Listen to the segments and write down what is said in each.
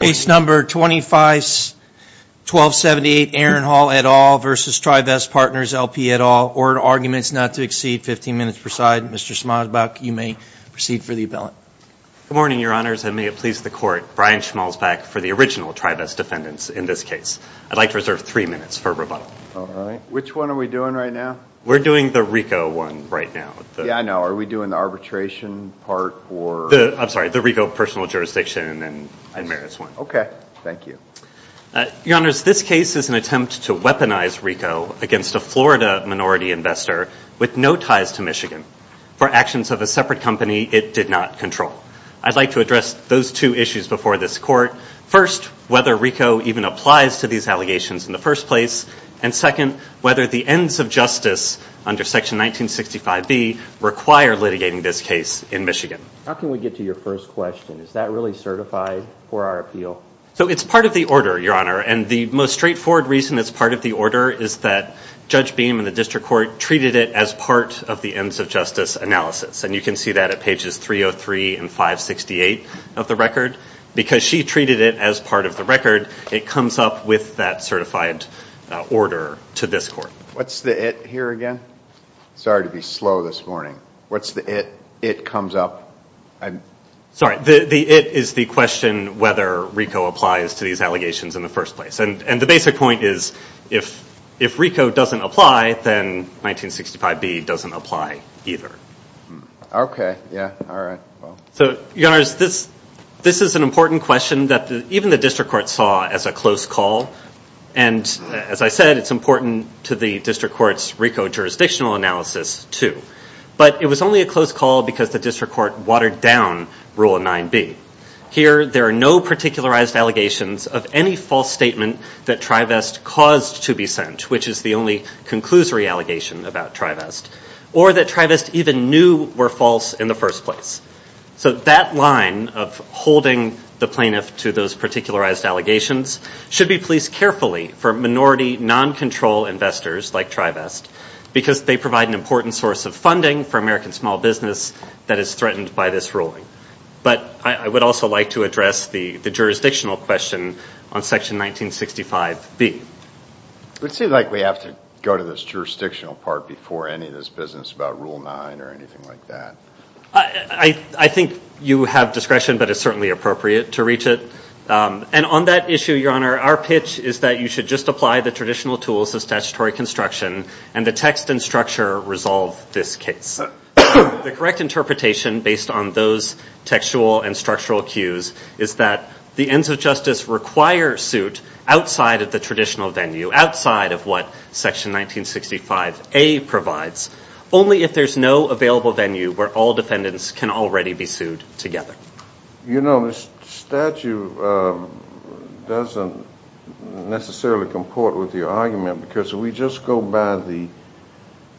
Case number 251278 Aaron Hall et al. versus Trivest Partners LP et al. Ordered arguments not to exceed 15 minutes per side. Mr. Schmalzbach, you may proceed for the appellate. Good morning, your honors, and may it please the court. Brian Schmalzbach for the original Trivest defendants in this case. I'd like to reserve three minutes for rebuttal. All right. Which one are we doing right now? We're doing the RICO one right now. Yeah, I know. Are we doing the arbitration part or? I'm sorry, the RICO personal jurisdiction and merits one. Okay. Thank you. Your honors, this case is an attempt to weaponize RICO against a Florida minority investor with no ties to Michigan for actions of a separate company it did not control. I'd like to address those two issues before this court. First, whether RICO even applies to these allegations in the first place. And second, whether the ends of justice under section 1965B require litigating this case in Michigan. How can we get to your first question? Is that really certified for our appeal? So it's part of the order, your honor, and the most straightforward reason it's part of the order is that Judge Beam in the district court treated it as part of the ends of justice analysis. And you can see that at pages 303 and 568 of the record. Because she treated it as part of the record, it comes up with that certified order to this court. What's the it here again? Sorry to be slow this morning. What's the it? It comes up. Sorry, the it is the question whether RICO applies to these allegations in the first place. And the basic point is if RICO doesn't apply, then 1965B doesn't apply either. Okay. Yeah. All right. So, your honors, this is an important question that even the district court saw as a close call. And as I said, it's important to the district court's RICO jurisdictional analysis, too. But it was only a close call because the district court watered down Rule 9B. Here, there are no particularized allegations of any false statement that Trivest caused to be sent, which is the only conclusory allegation about Trivest. Or that Trivest even knew were false in the first place. So that line of holding the plaintiff to those particularized allegations should be placed carefully for minority non-control investors like Trivest. Because they provide an important source of funding for American small business that is threatened by this ruling. But I would also like to address the jurisdictional question on Section 1965B. It seems like we have to go to this jurisdictional part before any of this business about Rule 9 or anything like that. I think you have discretion, but it's certainly appropriate to reach it. And on that issue, your honor, our pitch is that you should just apply the traditional tools of statutory construction and the text and structure resolve this case. The correct interpretation based on those textual and structural cues is that the ends of justice require suit outside of the traditional venue, outside of what Section 1965A provides, only if there's no available venue where all defendants can already be sued together. You know, this statute doesn't necessarily comport with your argument. Because if we just go by the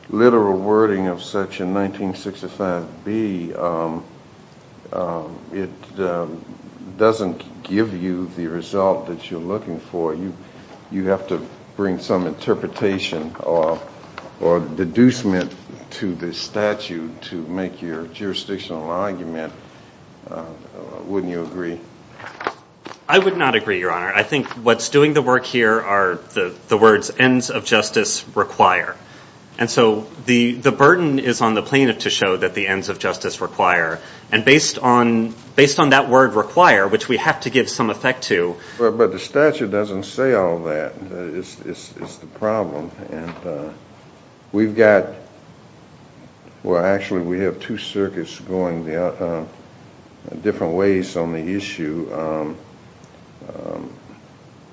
literal wording of Section 1965B, it doesn't give you the result that you're looking for. You have to bring some interpretation or deducement to this statute to make your jurisdictional argument. Wouldn't you agree? I would not agree, your honor. I think what's doing the work here are the words ends of justice require. And so the burden is on the plaintiff to show that the ends of justice require. And based on that word require, which we have to give some effect to. But the statute doesn't say all that. It's the problem. And we've got, well, actually we have two circuits going different ways on the issue.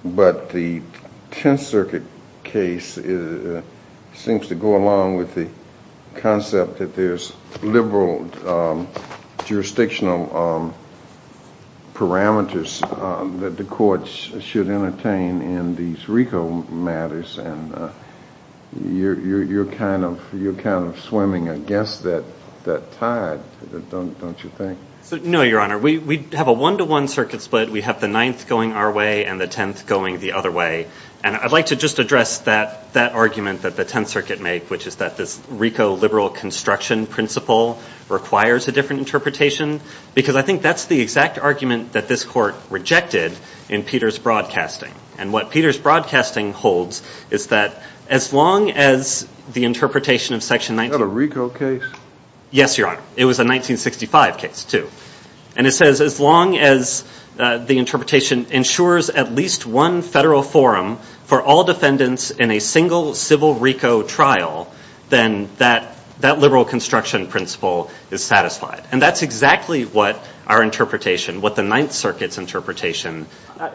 But the Tenth Circuit case seems to go along with the concept that there's liberal jurisdictional parameters that the courts should entertain in these RICO matters. And you're kind of swimming against that tide, don't you think? No, your honor. We have a one-to-one circuit split. We have the Ninth going our way and the Tenth going the other way. And I'd like to just address that argument that the Tenth Circuit make, which is that this RICO liberal construction principle requires a different interpretation. Because I think that's the exact argument that this court rejected in Peter's broadcasting. And what Peter's broadcasting holds is that as long as the interpretation of Section 19… Is that a RICO case? Yes, your honor. It was a 1965 case too. And it says as long as the interpretation ensures at least one federal forum for all defendants in a single civil RICO trial, then that liberal construction principle is satisfied. And that's exactly what our interpretation, what the Ninth Circuit's interpretation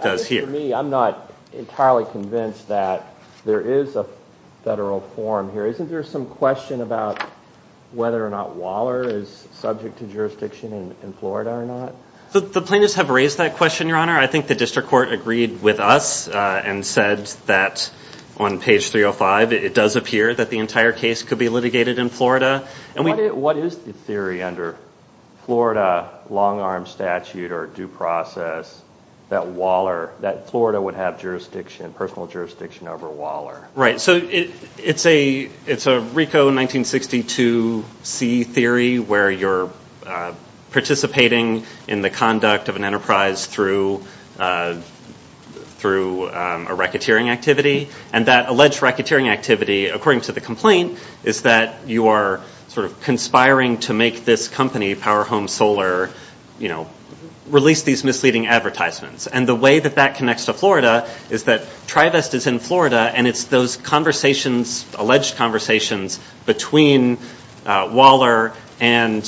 does here. To me, I'm not entirely convinced that there is a federal forum here. Isn't there some question about whether or not Waller is subject to jurisdiction in Florida or not? The plaintiffs have raised that question, your honor. I think the district court agreed with us and said that on page 305 it does appear that the entire case could be litigated in Florida. What is the theory under Florida long arm statute or due process that Waller, that Florida would have jurisdiction, personal jurisdiction over Waller? Right, so it's a RICO 1962C theory where you're participating in the conduct of an enterprise through a racketeering activity. And that alleged racketeering activity, according to the complaint, is that you are sort of conspiring to make this company, Power Home Solar, you know, release these misleading advertisements. And the way that that connects to Florida is that TriVest is in Florida and it's those conversations, alleged conversations, between Waller and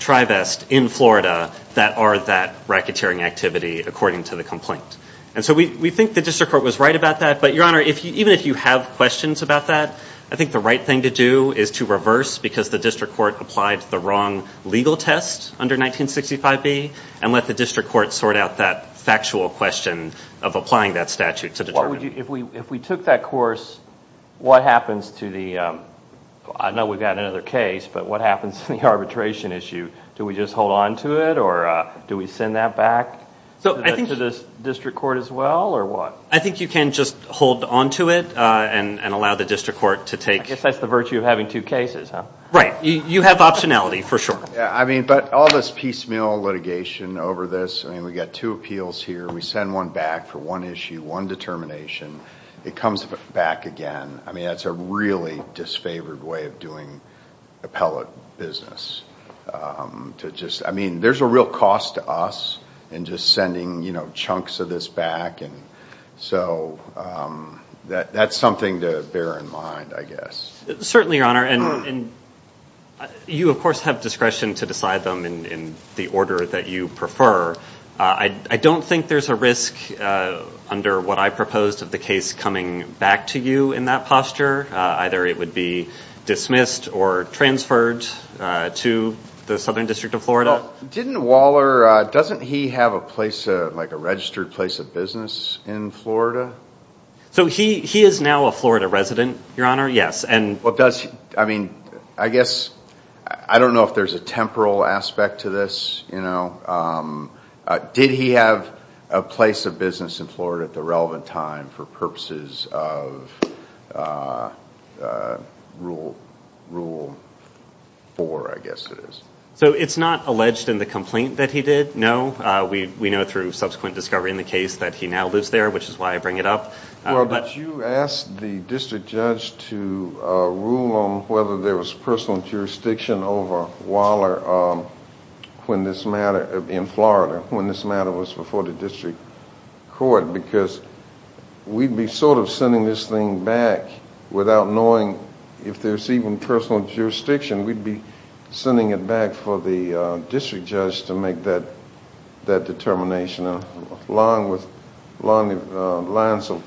TriVest in Florida that are that racketeering activity, according to the complaint. And so we think the district court was right about that. But, your honor, even if you have questions about that, I think the right thing to do is to reverse because the district court applied the wrong legal test under 1965B and let the district court sort out that factual question of applying that statute to determine. If we took that course, what happens to the, I know we've got another case, but what happens to the arbitration issue? Do we just hold on to it or do we send that back? To the district court as well or what? I think you can just hold on to it and allow the district court to take... I guess that's the virtue of having two cases, huh? Right. You have optionality, for sure. Yeah, I mean, but all this piecemeal litigation over this, I mean, we've got two appeals here. We send one back for one issue, one determination. It comes back again. I mean, that's a really disfavored way of doing appellate business. I mean, there's a real cost to us in just sending chunks of this back. And so that's something to bear in mind, I guess. Certainly, your honor. And you, of course, have discretion to decide them in the order that you prefer. I don't think there's a risk under what I proposed of the case coming back to you in that posture. Either it would be dismissed or transferred to the Southern District of Florida. Well, didn't Waller, doesn't he have a place, like a registered place of business in Florida? So he is now a Florida resident, your honor, yes. I mean, I guess, I don't know if there's a temporal aspect to this, you know. Did he have a place of business in Florida at the relevant time for purposes of Rule 4, I guess it is? So it's not alleged in the complaint that he did, no. We know through subsequent discovery in the case that he now lives there, which is why I bring it up. Well, did you ask the district judge to rule on whether there was personal jurisdiction over Waller in Florida when this matter was before the district court? Because we'd be sort of sending this thing back without knowing if there's even personal jurisdiction. We'd be sending it back for the district judge to make that determination. Along the lines of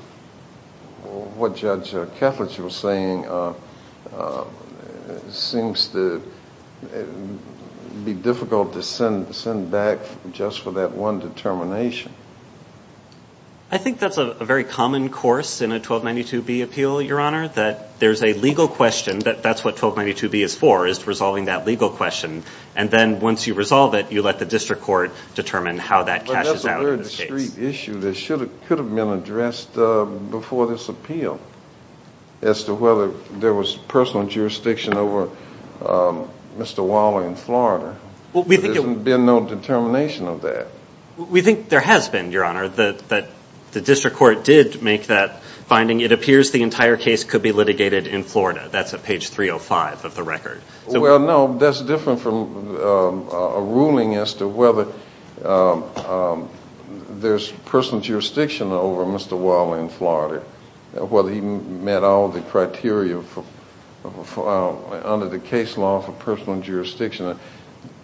what Judge Kethledge was saying, it seems to be difficult to send it back just for that one determination. I think that's a very common course in a 1292B appeal, your honor, that there's a legal question. That's what 1292B is for, is resolving that legal question. And then once you resolve it, you let the district court determine how that cashes out in the case. But that's a very discreet issue that could have been addressed before this appeal as to whether there was personal jurisdiction over Mr. Waller in Florida. There's been no determination of that. We think there has been, your honor. The district court did make that finding. It appears the entire case could be litigated in Florida. That's at page 305 of the record. Well, no. That's different from a ruling as to whether there's personal jurisdiction over Mr. Waller in Florida, whether he met all the criteria under the case law for personal jurisdiction.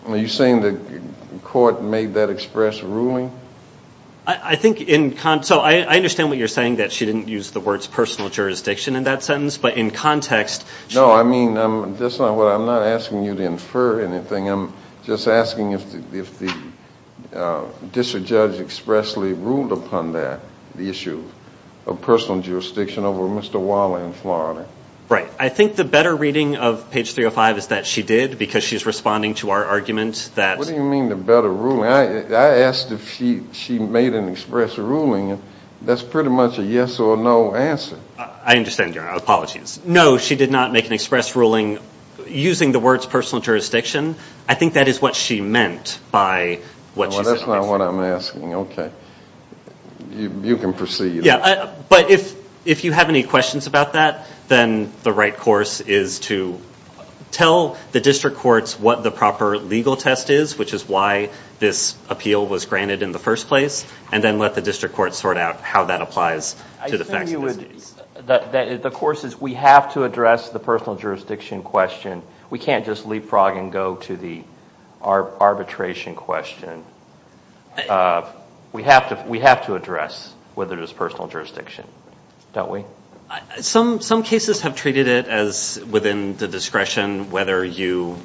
Are you saying the court made that express ruling? I think in – so I understand what you're saying, that she didn't use the words personal jurisdiction in that sentence. No, I mean, that's not what I'm – I'm not asking you to infer anything. I'm just asking if the district judge expressly ruled upon that, the issue of personal jurisdiction over Mr. Waller in Florida. Right. I think the better reading of page 305 is that she did because she's responding to our argument that – What do you mean the better ruling? I asked if she made an express ruling. That's pretty much a yes or no answer. I understand, Your Honor. Apologies. No, she did not make an express ruling using the words personal jurisdiction. I think that is what she meant by what she said. Well, that's not what I'm asking. Okay. You can proceed. Yeah. But if you have any questions about that, then the right course is to tell the district courts what the proper legal test is, which is why this appeal was granted in the first place, and then let the district courts sort out how that applies to the facts of this case. The course is we have to address the personal jurisdiction question. We can't just leapfrog and go to the arbitration question. We have to address whether it is personal jurisdiction, don't we? Some cases have treated it as within the discretion, whether you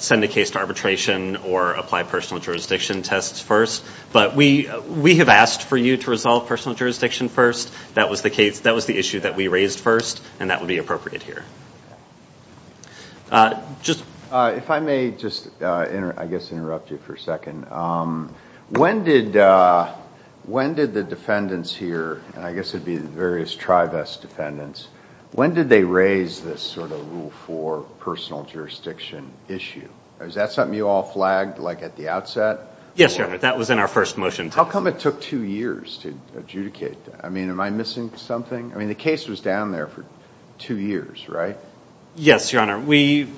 send a case to arbitration or apply personal jurisdiction tests first. But we have asked for you to resolve personal jurisdiction first. That was the issue that we raised first, and that would be appropriate here. If I may just, I guess, interrupt you for a second. When did the defendants here, and I guess it would be the various Trivest defendants, when did they raise this sort of Rule 4 personal jurisdiction issue? Was that something you all flagged, like, at the outset? Yes, Your Honor. That was in our first motion. How come it took two years to adjudicate? I mean, am I missing something? I mean, the case was down there for two years, right? Yes, Your Honor. We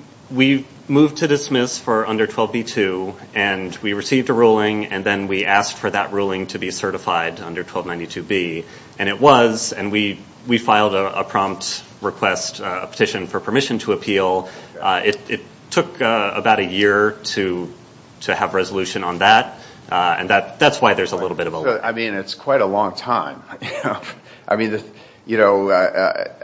moved to dismiss for under 12b-2, and we received a ruling, and then we asked for that ruling to be certified under 1292b. And it was, and we filed a prompt request, a petition for permission to appeal. It took about a year to have resolution on that, and that's why there's a little bit of a lag. I mean, it's quite a long time. I mean, you know,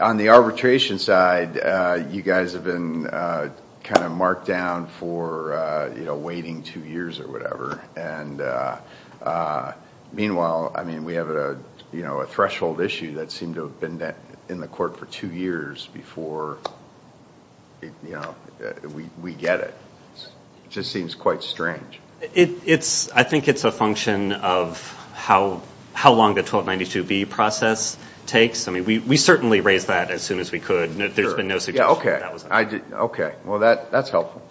on the arbitration side, you guys have been kind of marked down for waiting two years or whatever. And meanwhile, I mean, we have a threshold issue that seemed to have been in the court for two years before, you know, we get it. It just seems quite strange. I think it's a function of how long the 1292b process takes. I mean, we certainly raised that as soon as we could. There's been no suggestion that that was the case. Well, that's helpful.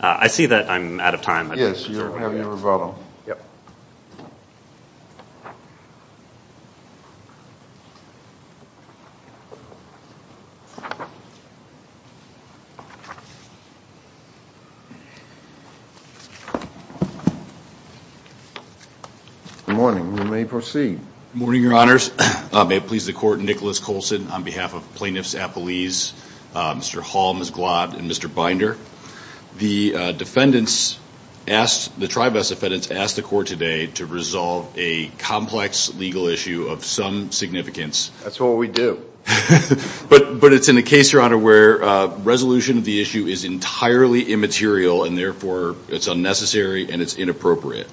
I see that I'm out of time. Yes, you're having a rebuttal. Yes. Good morning. You may proceed. Good morning, Your Honors. May it please the Court, Nicholas Colson on behalf of Plaintiffs Appellees, Mr. Hall, Ms. Glodd, and Mr. Binder. The defendants asked, the Tribest defendants asked the Court today to resolve a complex legal issue of some significance. That's what we do. But it's in a case, Your Honor, where resolution of the issue is entirely immaterial and therefore it's unnecessary and it's inappropriate.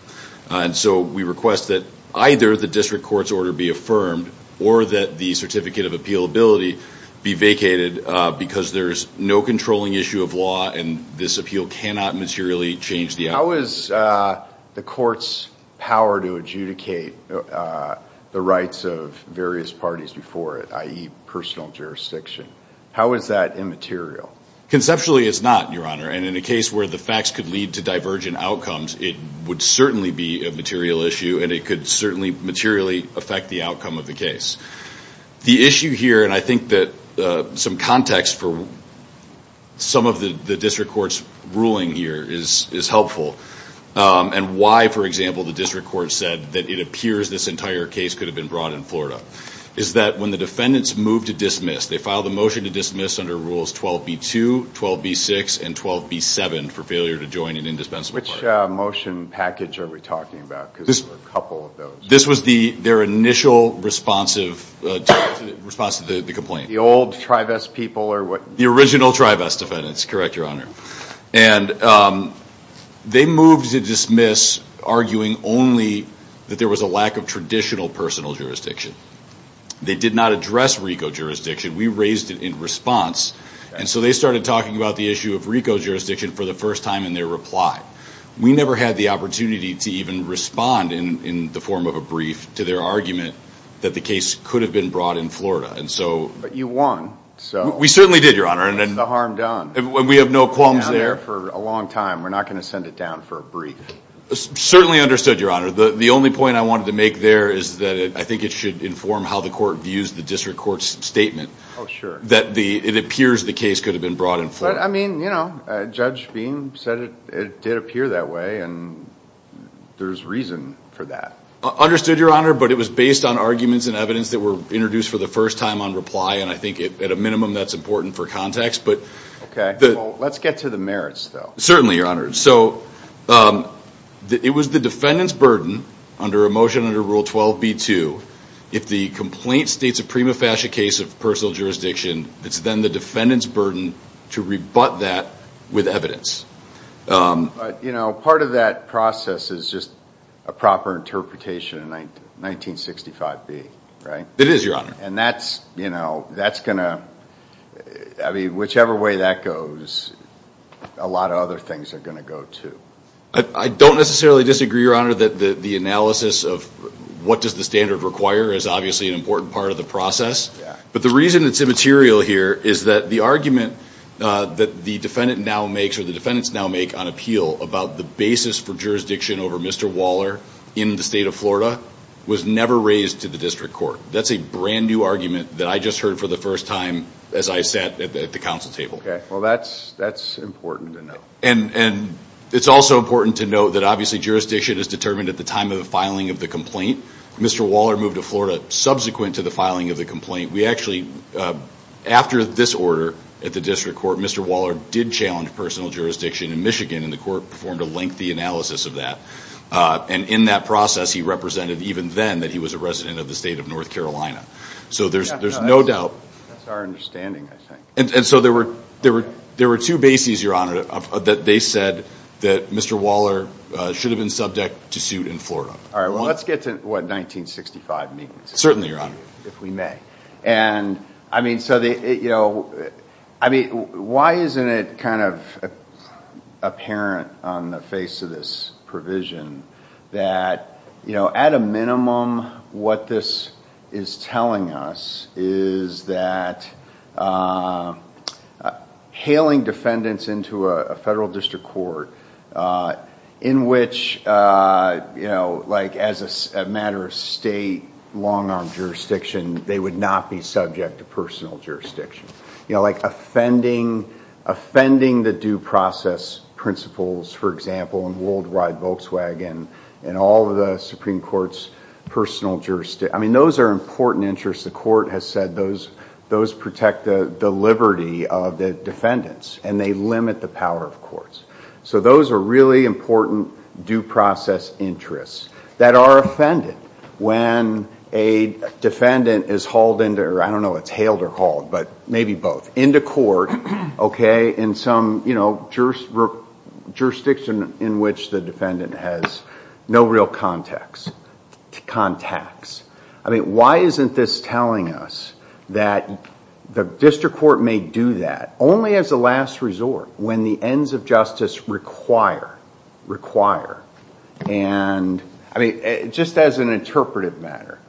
And so we request that either the district court's order be affirmed or that the certificate of appealability be vacated because there's no controlling issue of law and this appeal cannot materially change the outcome. How is the Court's power to adjudicate the rights of various parties before it, i.e. personal jurisdiction, how is that immaterial? Conceptually, it's not, Your Honor. And in a case where the facts could lead to divergent outcomes, it would certainly be a material issue and it could certainly materially affect the outcome of the case. The issue here, and I think that some context for some of the district court's ruling here is helpful, and why, for example, the district court said that it appears this entire case could have been brought in Florida, is that when the defendants moved to dismiss, they filed a motion to dismiss under Rules 12b-2, 12b-6, and 12b-7 for failure to join an indispensable party. Which motion package are we talking about? Because there were a couple of those. This was their initial response to the complaint. The old Tribest people or what? The original Tribest defendants, correct, Your Honor. And they moved to dismiss arguing only that there was a lack of traditional personal jurisdiction. They did not address RICO jurisdiction. We raised it in response, and so they started talking about the issue of RICO jurisdiction for the first time in their reply. We never had the opportunity to even respond in the form of a brief to their argument that the case could have been brought in Florida. But you won. We certainly did, Your Honor. That's the harm done. We have no qualms there. We've been down there for a long time. We're not going to send it down for a brief. Certainly understood, Your Honor. The only point I wanted to make there is that I think it should inform how the court views the district court's statement. Oh, sure. That it appears the case could have been brought in Florida. But, I mean, you know, Judge Bean said it did appear that way, and there's reason for that. Understood, Your Honor, but it was based on arguments and evidence that were introduced for the first time on reply, and I think at a minimum that's important for context. Okay. Let's get to the merits, though. Certainly, Your Honor. So it was the defendant's burden under a motion under Rule 12b-2, if the complaint states a prima facie case of personal jurisdiction, it's then the defendant's burden to rebut that with evidence. But, you know, part of that process is just a proper interpretation of 1965b, right? It is, Your Honor. And that's going to, I mean, whichever way that goes, a lot of other things are going to go, too. I don't necessarily disagree, Your Honor, that the analysis of what does the standard require is obviously an important part of the process. Yeah. But the reason it's immaterial here is that the argument that the defendant now makes or the defendants now make on appeal about the basis for jurisdiction over Mr. Waller in the state of Florida was never raised to the district court. That's a brand-new argument that I just heard for the first time as I sat at the council table. Well, that's important to know. And it's also important to note that, obviously, jurisdiction is determined at the time of the filing of the complaint. Mr. Waller moved to Florida subsequent to the filing of the complaint. We actually, after this order at the district court, Mr. Waller did challenge personal jurisdiction in Michigan, and the court performed a lengthy analysis of that. And in that process, he represented even then that he was a resident of the state of North Carolina. So there's no doubt. That's our understanding, I think. And so there were two bases, Your Honor, that they said that Mr. Waller should have been subject to suit in Florida. All right. Well, let's get to, what, 1965b. Certainly, Your Honor. If we may. And, I mean, so the, you know, I mean, why isn't it kind of apparent on the face of this provision that, you know, at a minimum, what this is telling us is that hailing defendants into a federal district court, in which, you know, like as a matter of state long-arm jurisdiction, they would not be subject to personal jurisdiction. You know, like offending the due process principles, for example, in Worldwide Volkswagen, and all of the Supreme Court's personal jurisdiction, I mean, those are important interests. The court has said those protect the liberty of the defendants, and they limit the power of courts. So those are really important due process interests that are offended when a defendant is hauled into, or I don't know if it's hailed or hauled, but maybe both, into court, okay, in some, you know, jurisdiction in which the defendant has no real contacts. I mean, why isn't this telling us that the district court may do that only as a last resort when the ends of justice require, require? And, I mean, just as an interpretive matter,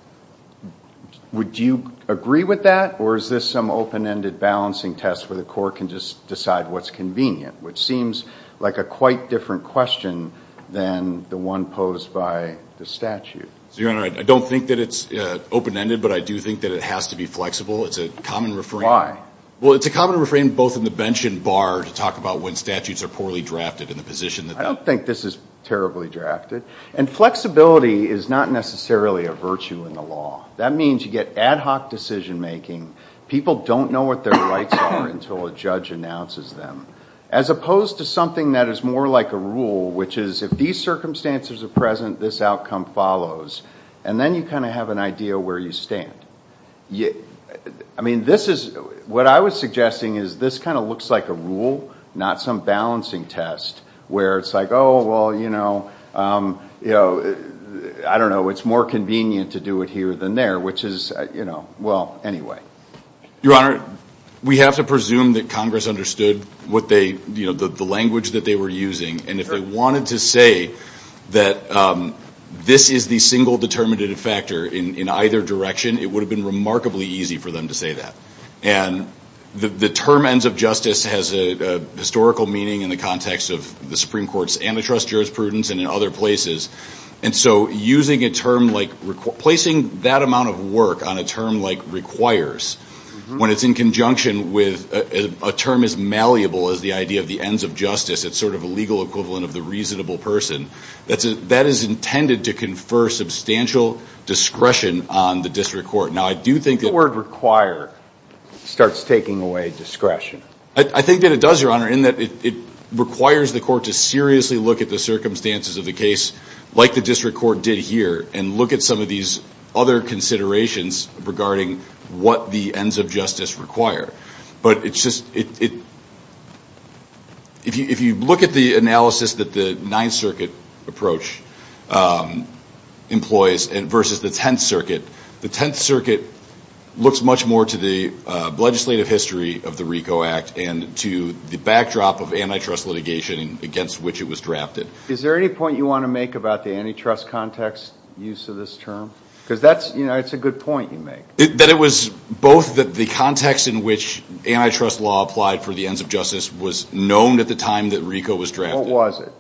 would you agree with that, or is this some open-ended balancing test where the court can just decide what's convenient, which seems like a quite different question than the one posed by the statute? Your Honor, I don't think that it's open-ended, but I do think that it has to be flexible. It's a common refrain. I don't think this is terribly drafted. And flexibility is not necessarily a virtue in the law. That means you get ad hoc decision-making. People don't know what their rights are until a judge announces them, as opposed to something that is more like a rule, which is if these circumstances are present, this outcome follows, and then you kind of have an idea where you stand. I mean, this is, what I was suggesting is this kind of looks like a rule, not some balancing test where it's like, oh, well, you know, I don't know, it's more convenient to do it here than there, which is, you know, well, anyway. Your Honor, we have to presume that Congress understood what they, you know, the language that they were using. And if they wanted to say that this is the single determinative factor in either direction, it would have been remarkably easy for them to say that. And the term ends of justice has a historical meaning in the context of the Supreme Court's antitrust jurisprudence and in other places. And so using a term like, placing that amount of work on a term like requires, when it's in conjunction with a term as malleable as the idea of the ends of justice, it's sort of a legal equivalent of the reasonable person, that is intended to confer substantial discretion on the district court. Now, I do think that. The word require starts taking away discretion. I think that it does, Your Honor, in that it requires the court to seriously look at the circumstances of the case, like the district court did here, and look at some of these other considerations regarding what the ends of justice require. But it's just, if you look at the analysis that the Ninth Circuit approach employs versus the Tenth Circuit, the Tenth Circuit looks much more to the legislative history of the RICO Act and to the backdrop of antitrust litigation against which it was drafted. Is there any point you want to make about the antitrust context use of this term? Because that's, you know, it's a good point you make. That it was both the context in which antitrust law applied for the ends of justice was known at the time that RICO was drafted. What was it?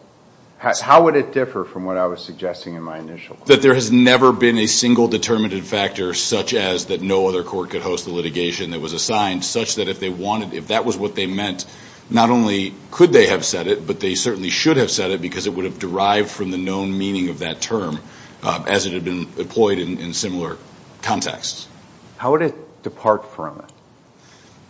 How would it differ from what I was suggesting in my initial point? That there has never been a single determinative factor such as that no other court could host the litigation that was assigned, such that if they wanted, if that was what they meant, not only could they have said it, but they certainly should have said it because it would have derived from the known meaning of that term as it had been employed in similar contexts. How would it depart from it?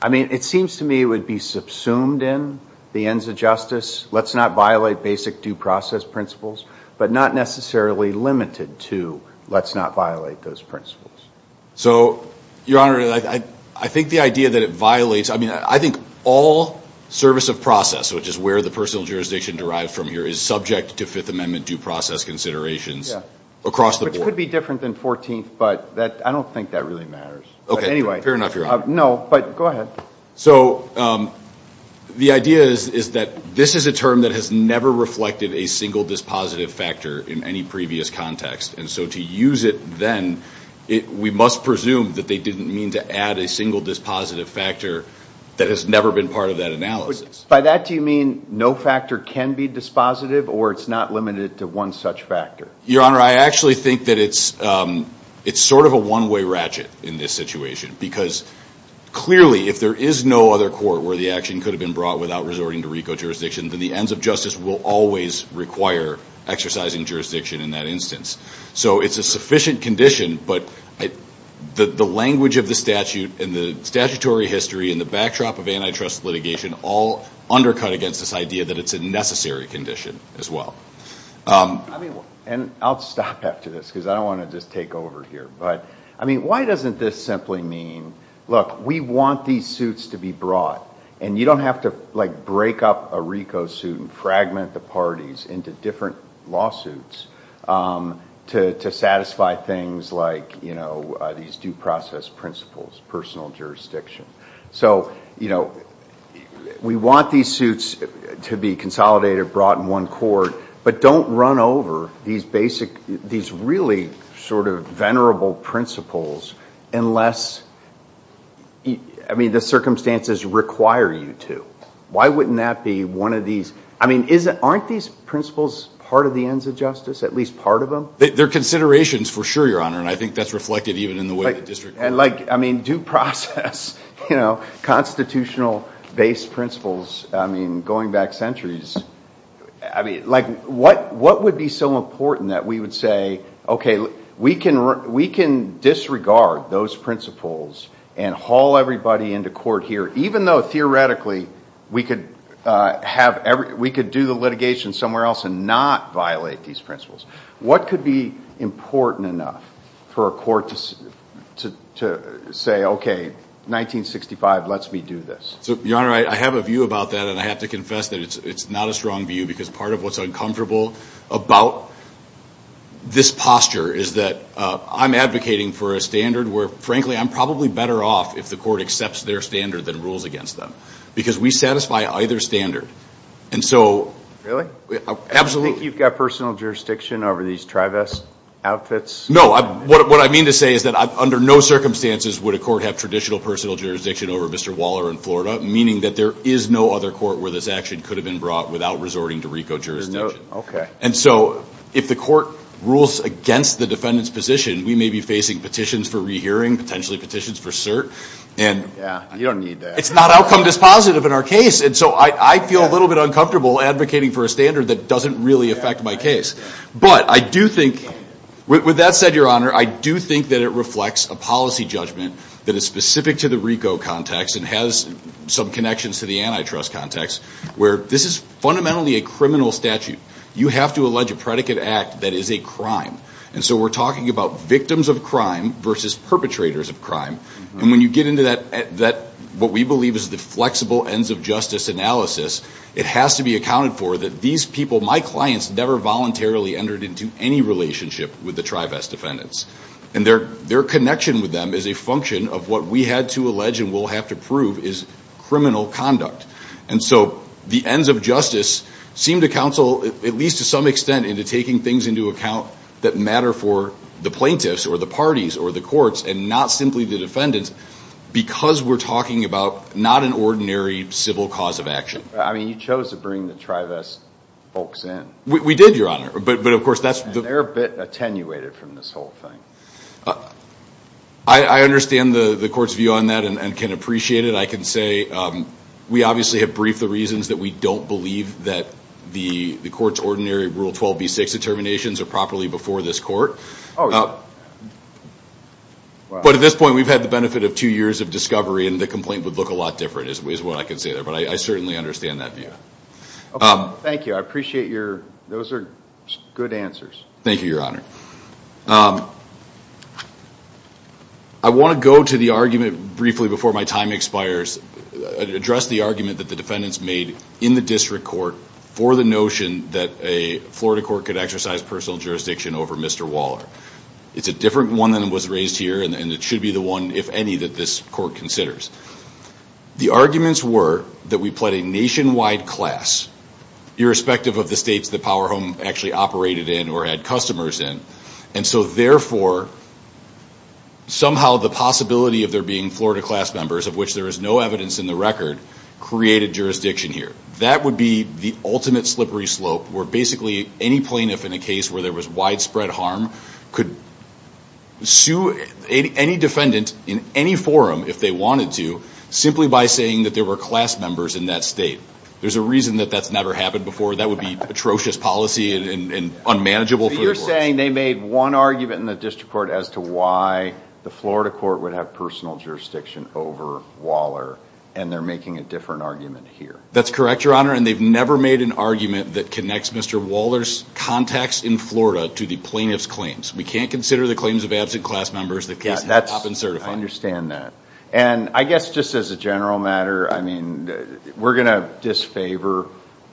I mean, it seems to me it would be subsumed in the ends of justice, let's not violate basic due process principles, but not necessarily limited to let's not violate those principles. So, Your Honor, I think the idea that it violates, I mean, I think all service of process, which is where the personal jurisdiction derives from here, is subject to Fifth Amendment due process considerations across the board. Which could be different than 14th, but I don't think that really matters. Okay. But anyway. Fair enough, Your Honor. No, but go ahead. So the idea is that this is a term that has never reflected a single dispositive factor in any previous context. And so to use it then, we must presume that they didn't mean to add a single dispositive factor that has never been part of that analysis. By that, do you mean no factor can be dispositive or it's not limited to one such factor? Your Honor, I actually think that it's sort of a one-way ratchet in this situation, because clearly if there is no other court where the action could have been brought without resorting to RICO jurisdiction, then the ends of justice will always require exercising jurisdiction in that instance. So it's a sufficient condition, but the language of the statute and the statutory history and the backdrop of antitrust litigation all undercut against this idea that it's a necessary condition as well. And I'll stop after this, because I don't want to just take over here. But, I mean, why doesn't this simply mean, look, we want these suits to be brought, and you don't have to, like, break up a RICO suit and fragment the parties into different lawsuits to satisfy things like, you know, these due process principles, personal jurisdiction. So, you know, we want these suits to be consolidated, brought in one court, but don't run over these basic, these really sort of venerable principles unless, I mean, the circumstances require you to. Why wouldn't that be one of these? I mean, aren't these principles part of the ends of justice, at least part of them? They're considerations for sure, Your Honor, and I think that's reflected even in the way the district. And, like, I mean, due process, you know, constitutional-based principles, I mean, going back centuries. I mean, like, what would be so important that we would say, okay, we can disregard those principles and haul everybody into court here even though theoretically we could do the litigation somewhere else and not violate these principles. What could be important enough for a court to say, okay, 1965 lets me do this? So, Your Honor, I have a view about that, and I have to confess that it's not a strong view because part of what's uncomfortable about this posture is that I'm advocating for a standard where, frankly, I'm probably better off if the court accepts their standard than rules against them because we satisfy either standard. And so, absolutely. Do you think you've got personal jurisdiction over these trivest outfits? What I mean to say is that under no circumstances would a court have traditional personal jurisdiction over Mr. Waller in Florida, meaning that there is no other court where this action could have been brought without resorting to RICO jurisdiction. Okay. And so if the court rules against the defendant's position, we may be facing petitions for rehearing, potentially petitions for cert. Yeah, you don't need that. It's not outcome dispositive in our case. And so I feel a little bit uncomfortable advocating for a standard that doesn't really affect my case. But I do think, with that said, Your Honor, I do think that it reflects a policy judgment that is specific to the RICO context and has some connections to the antitrust context where this is fundamentally a criminal statute. You have to allege a predicate act that is a crime. And so we're talking about victims of crime versus perpetrators of crime. And when you get into what we believe is the flexible ends of justice analysis, it has to be accounted for that these people, my clients, never voluntarily entered into any relationship with the trivest defendants. And their connection with them is a function of what we had to allege and will have to prove is criminal conduct. And so the ends of justice seem to counsel, at least to some extent, into taking things into account that matter for the plaintiffs or the parties or the courts and not simply the defendants because we're talking about not an ordinary civil cause of action. I mean, you chose to bring the trivest folks in. We did, Your Honor. But, of course, that's the- And they're a bit attenuated from this whole thing. I understand the court's view on that and can appreciate it. I can say we obviously have briefed the reasons that we don't believe that the court's ordinary Rule 12b6 determinations are properly before this court. Oh, yeah. But at this point, we've had the benefit of two years of discovery and the complaint would look a lot different is what I can say there. But I certainly understand that view. Thank you. I appreciate your- those are good answers. Thank you, Your Honor. I want to go to the argument briefly before my time expires, address the argument that the defendants made in the district court for the notion that a Florida court could exercise personal jurisdiction over Mr. Waller. It's a different one than was raised here and it should be the one, if any, that this court considers. The arguments were that we pled a nationwide class, irrespective of the states that Powerhome actually operated in or had customers in. And so, therefore, somehow the possibility of there being Florida class members of which there is no evidence in the record created jurisdiction here. That would be the ultimate slippery slope where basically any plaintiff in a case where there was widespread harm could sue any defendant in any forum, if they wanted to, simply by saying that there were class members in that state. There's a reason that that's never happened before. That would be atrocious policy and unmanageable for the courts. So you're saying they made one argument in the district court as to why the Florida court would have personal jurisdiction over Waller. And they're making a different argument here. That's correct, Your Honor. And they've never made an argument that connects Mr. Waller's contacts in Florida to the plaintiff's claims. We can't consider the claims of absent class members, the case has not been certified. I understand that. And I guess just as a general matter, I mean, we're going to disfavor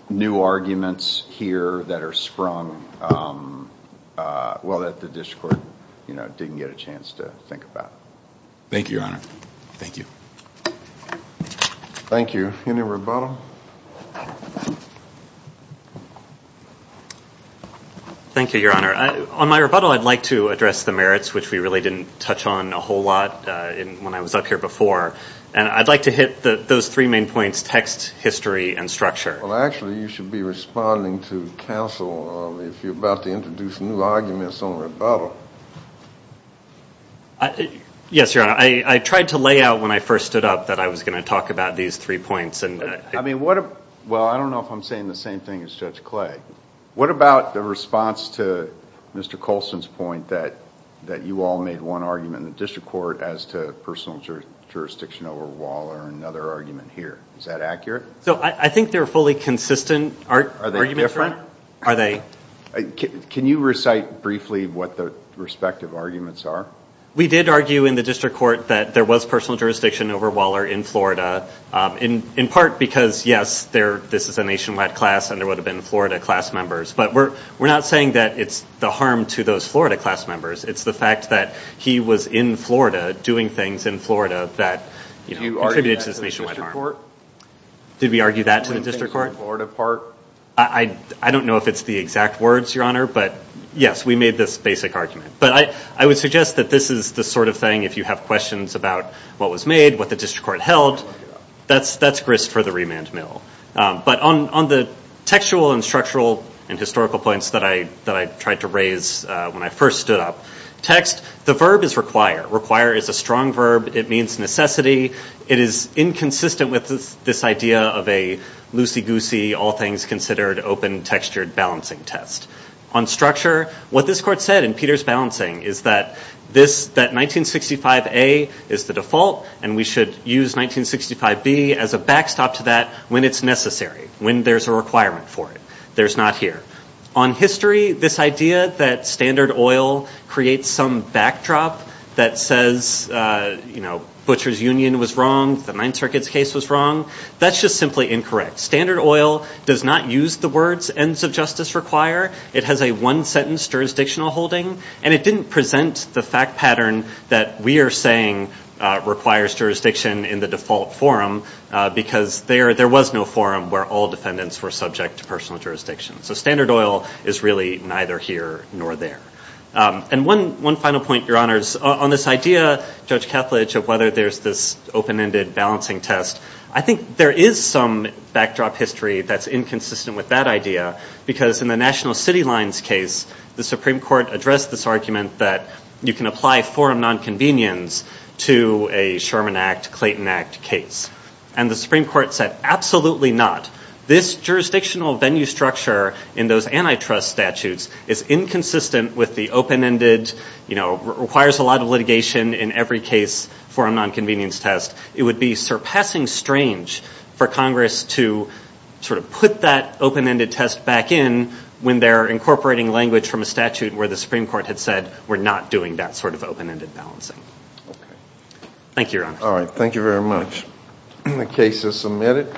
new arguments here that are sprung, well, that the district court didn't get a chance to think about. Thank you, Your Honor. Thank you. Thank you. Any rebuttal? Thank you, Your Honor. On my rebuttal, I'd like to address the merits, which we really didn't touch on a whole lot when I was up here before. And I'd like to hit those three main points, text, history, and structure. Well, actually, you should be responding to counsel if you're about to introduce new arguments on rebuttal. Yes, Your Honor. I tried to lay out when I first stood up that I was going to talk about these three points. Well, I don't know if I'm saying the same thing as Judge Clay. What about the response to Mr. Colson's point that you all made one argument in the district court as to personal jurisdiction over Waller and another argument here? Is that accurate? So I think they're a fully consistent argument. Are they? Can you recite briefly what the respective arguments are? We did argue in the district court that there was personal jurisdiction over Waller in Florida, in part because, yes, this is a nationwide class and there would have been Florida class members. But we're not saying that it's the harm to those Florida class members. It's the fact that he was in Florida doing things in Florida that contributed to this nationwide harm. Did we argue that to the district court? In the Florida part? I don't know if it's the exact words, Your Honor. But, yes, we made this basic argument. But I would suggest that this is the sort of thing, if you have questions about what was made, what the district court held, that's grist for the remand mill. But on the textual and structural and historical points that I tried to raise when I first stood up, text, the verb is require. Require is a strong verb. It means necessity. It is inconsistent with this idea of a loosey-goosey, all-things-considered, open-textured balancing test. On structure, what this court said in Peter's balancing is that 1965A is the default and we should use 1965B as a backstop to that when it's necessary, when there's a requirement for it. There's not here. On history, this idea that standard oil creates some backdrop that says, you know, Butcher's Union was wrong, the Ninth Circuit's case was wrong, that's just simply incorrect. Standard oil does not use the words ends of justice require. It has a one-sentence jurisdictional holding. And it didn't present the fact pattern that we are saying requires jurisdiction in the default forum because there was no forum where all defendants were subject to personal jurisdiction. So standard oil is really neither here nor there. And one final point, Your Honors. On this idea, Judge Kethledge, of whether there's this open-ended balancing test, I think there is some backdrop history that's inconsistent with that idea because in the National City Lines case, the Supreme Court addressed this argument that you can apply forum nonconvenience to a Sherman Act, Clayton Act case. And the Supreme Court said absolutely not. This jurisdictional venue structure in those antitrust statutes is inconsistent with the open-ended, you know, requires a lot of litigation in every case for a nonconvenience test. It would be surpassing strange for Congress to sort of put that open-ended test back in when they're incorporating language from a statute where the Supreme Court had said we're not doing that sort of open-ended balancing. Thank you, Your Honors. All right. Thank you very much. The case is submitted.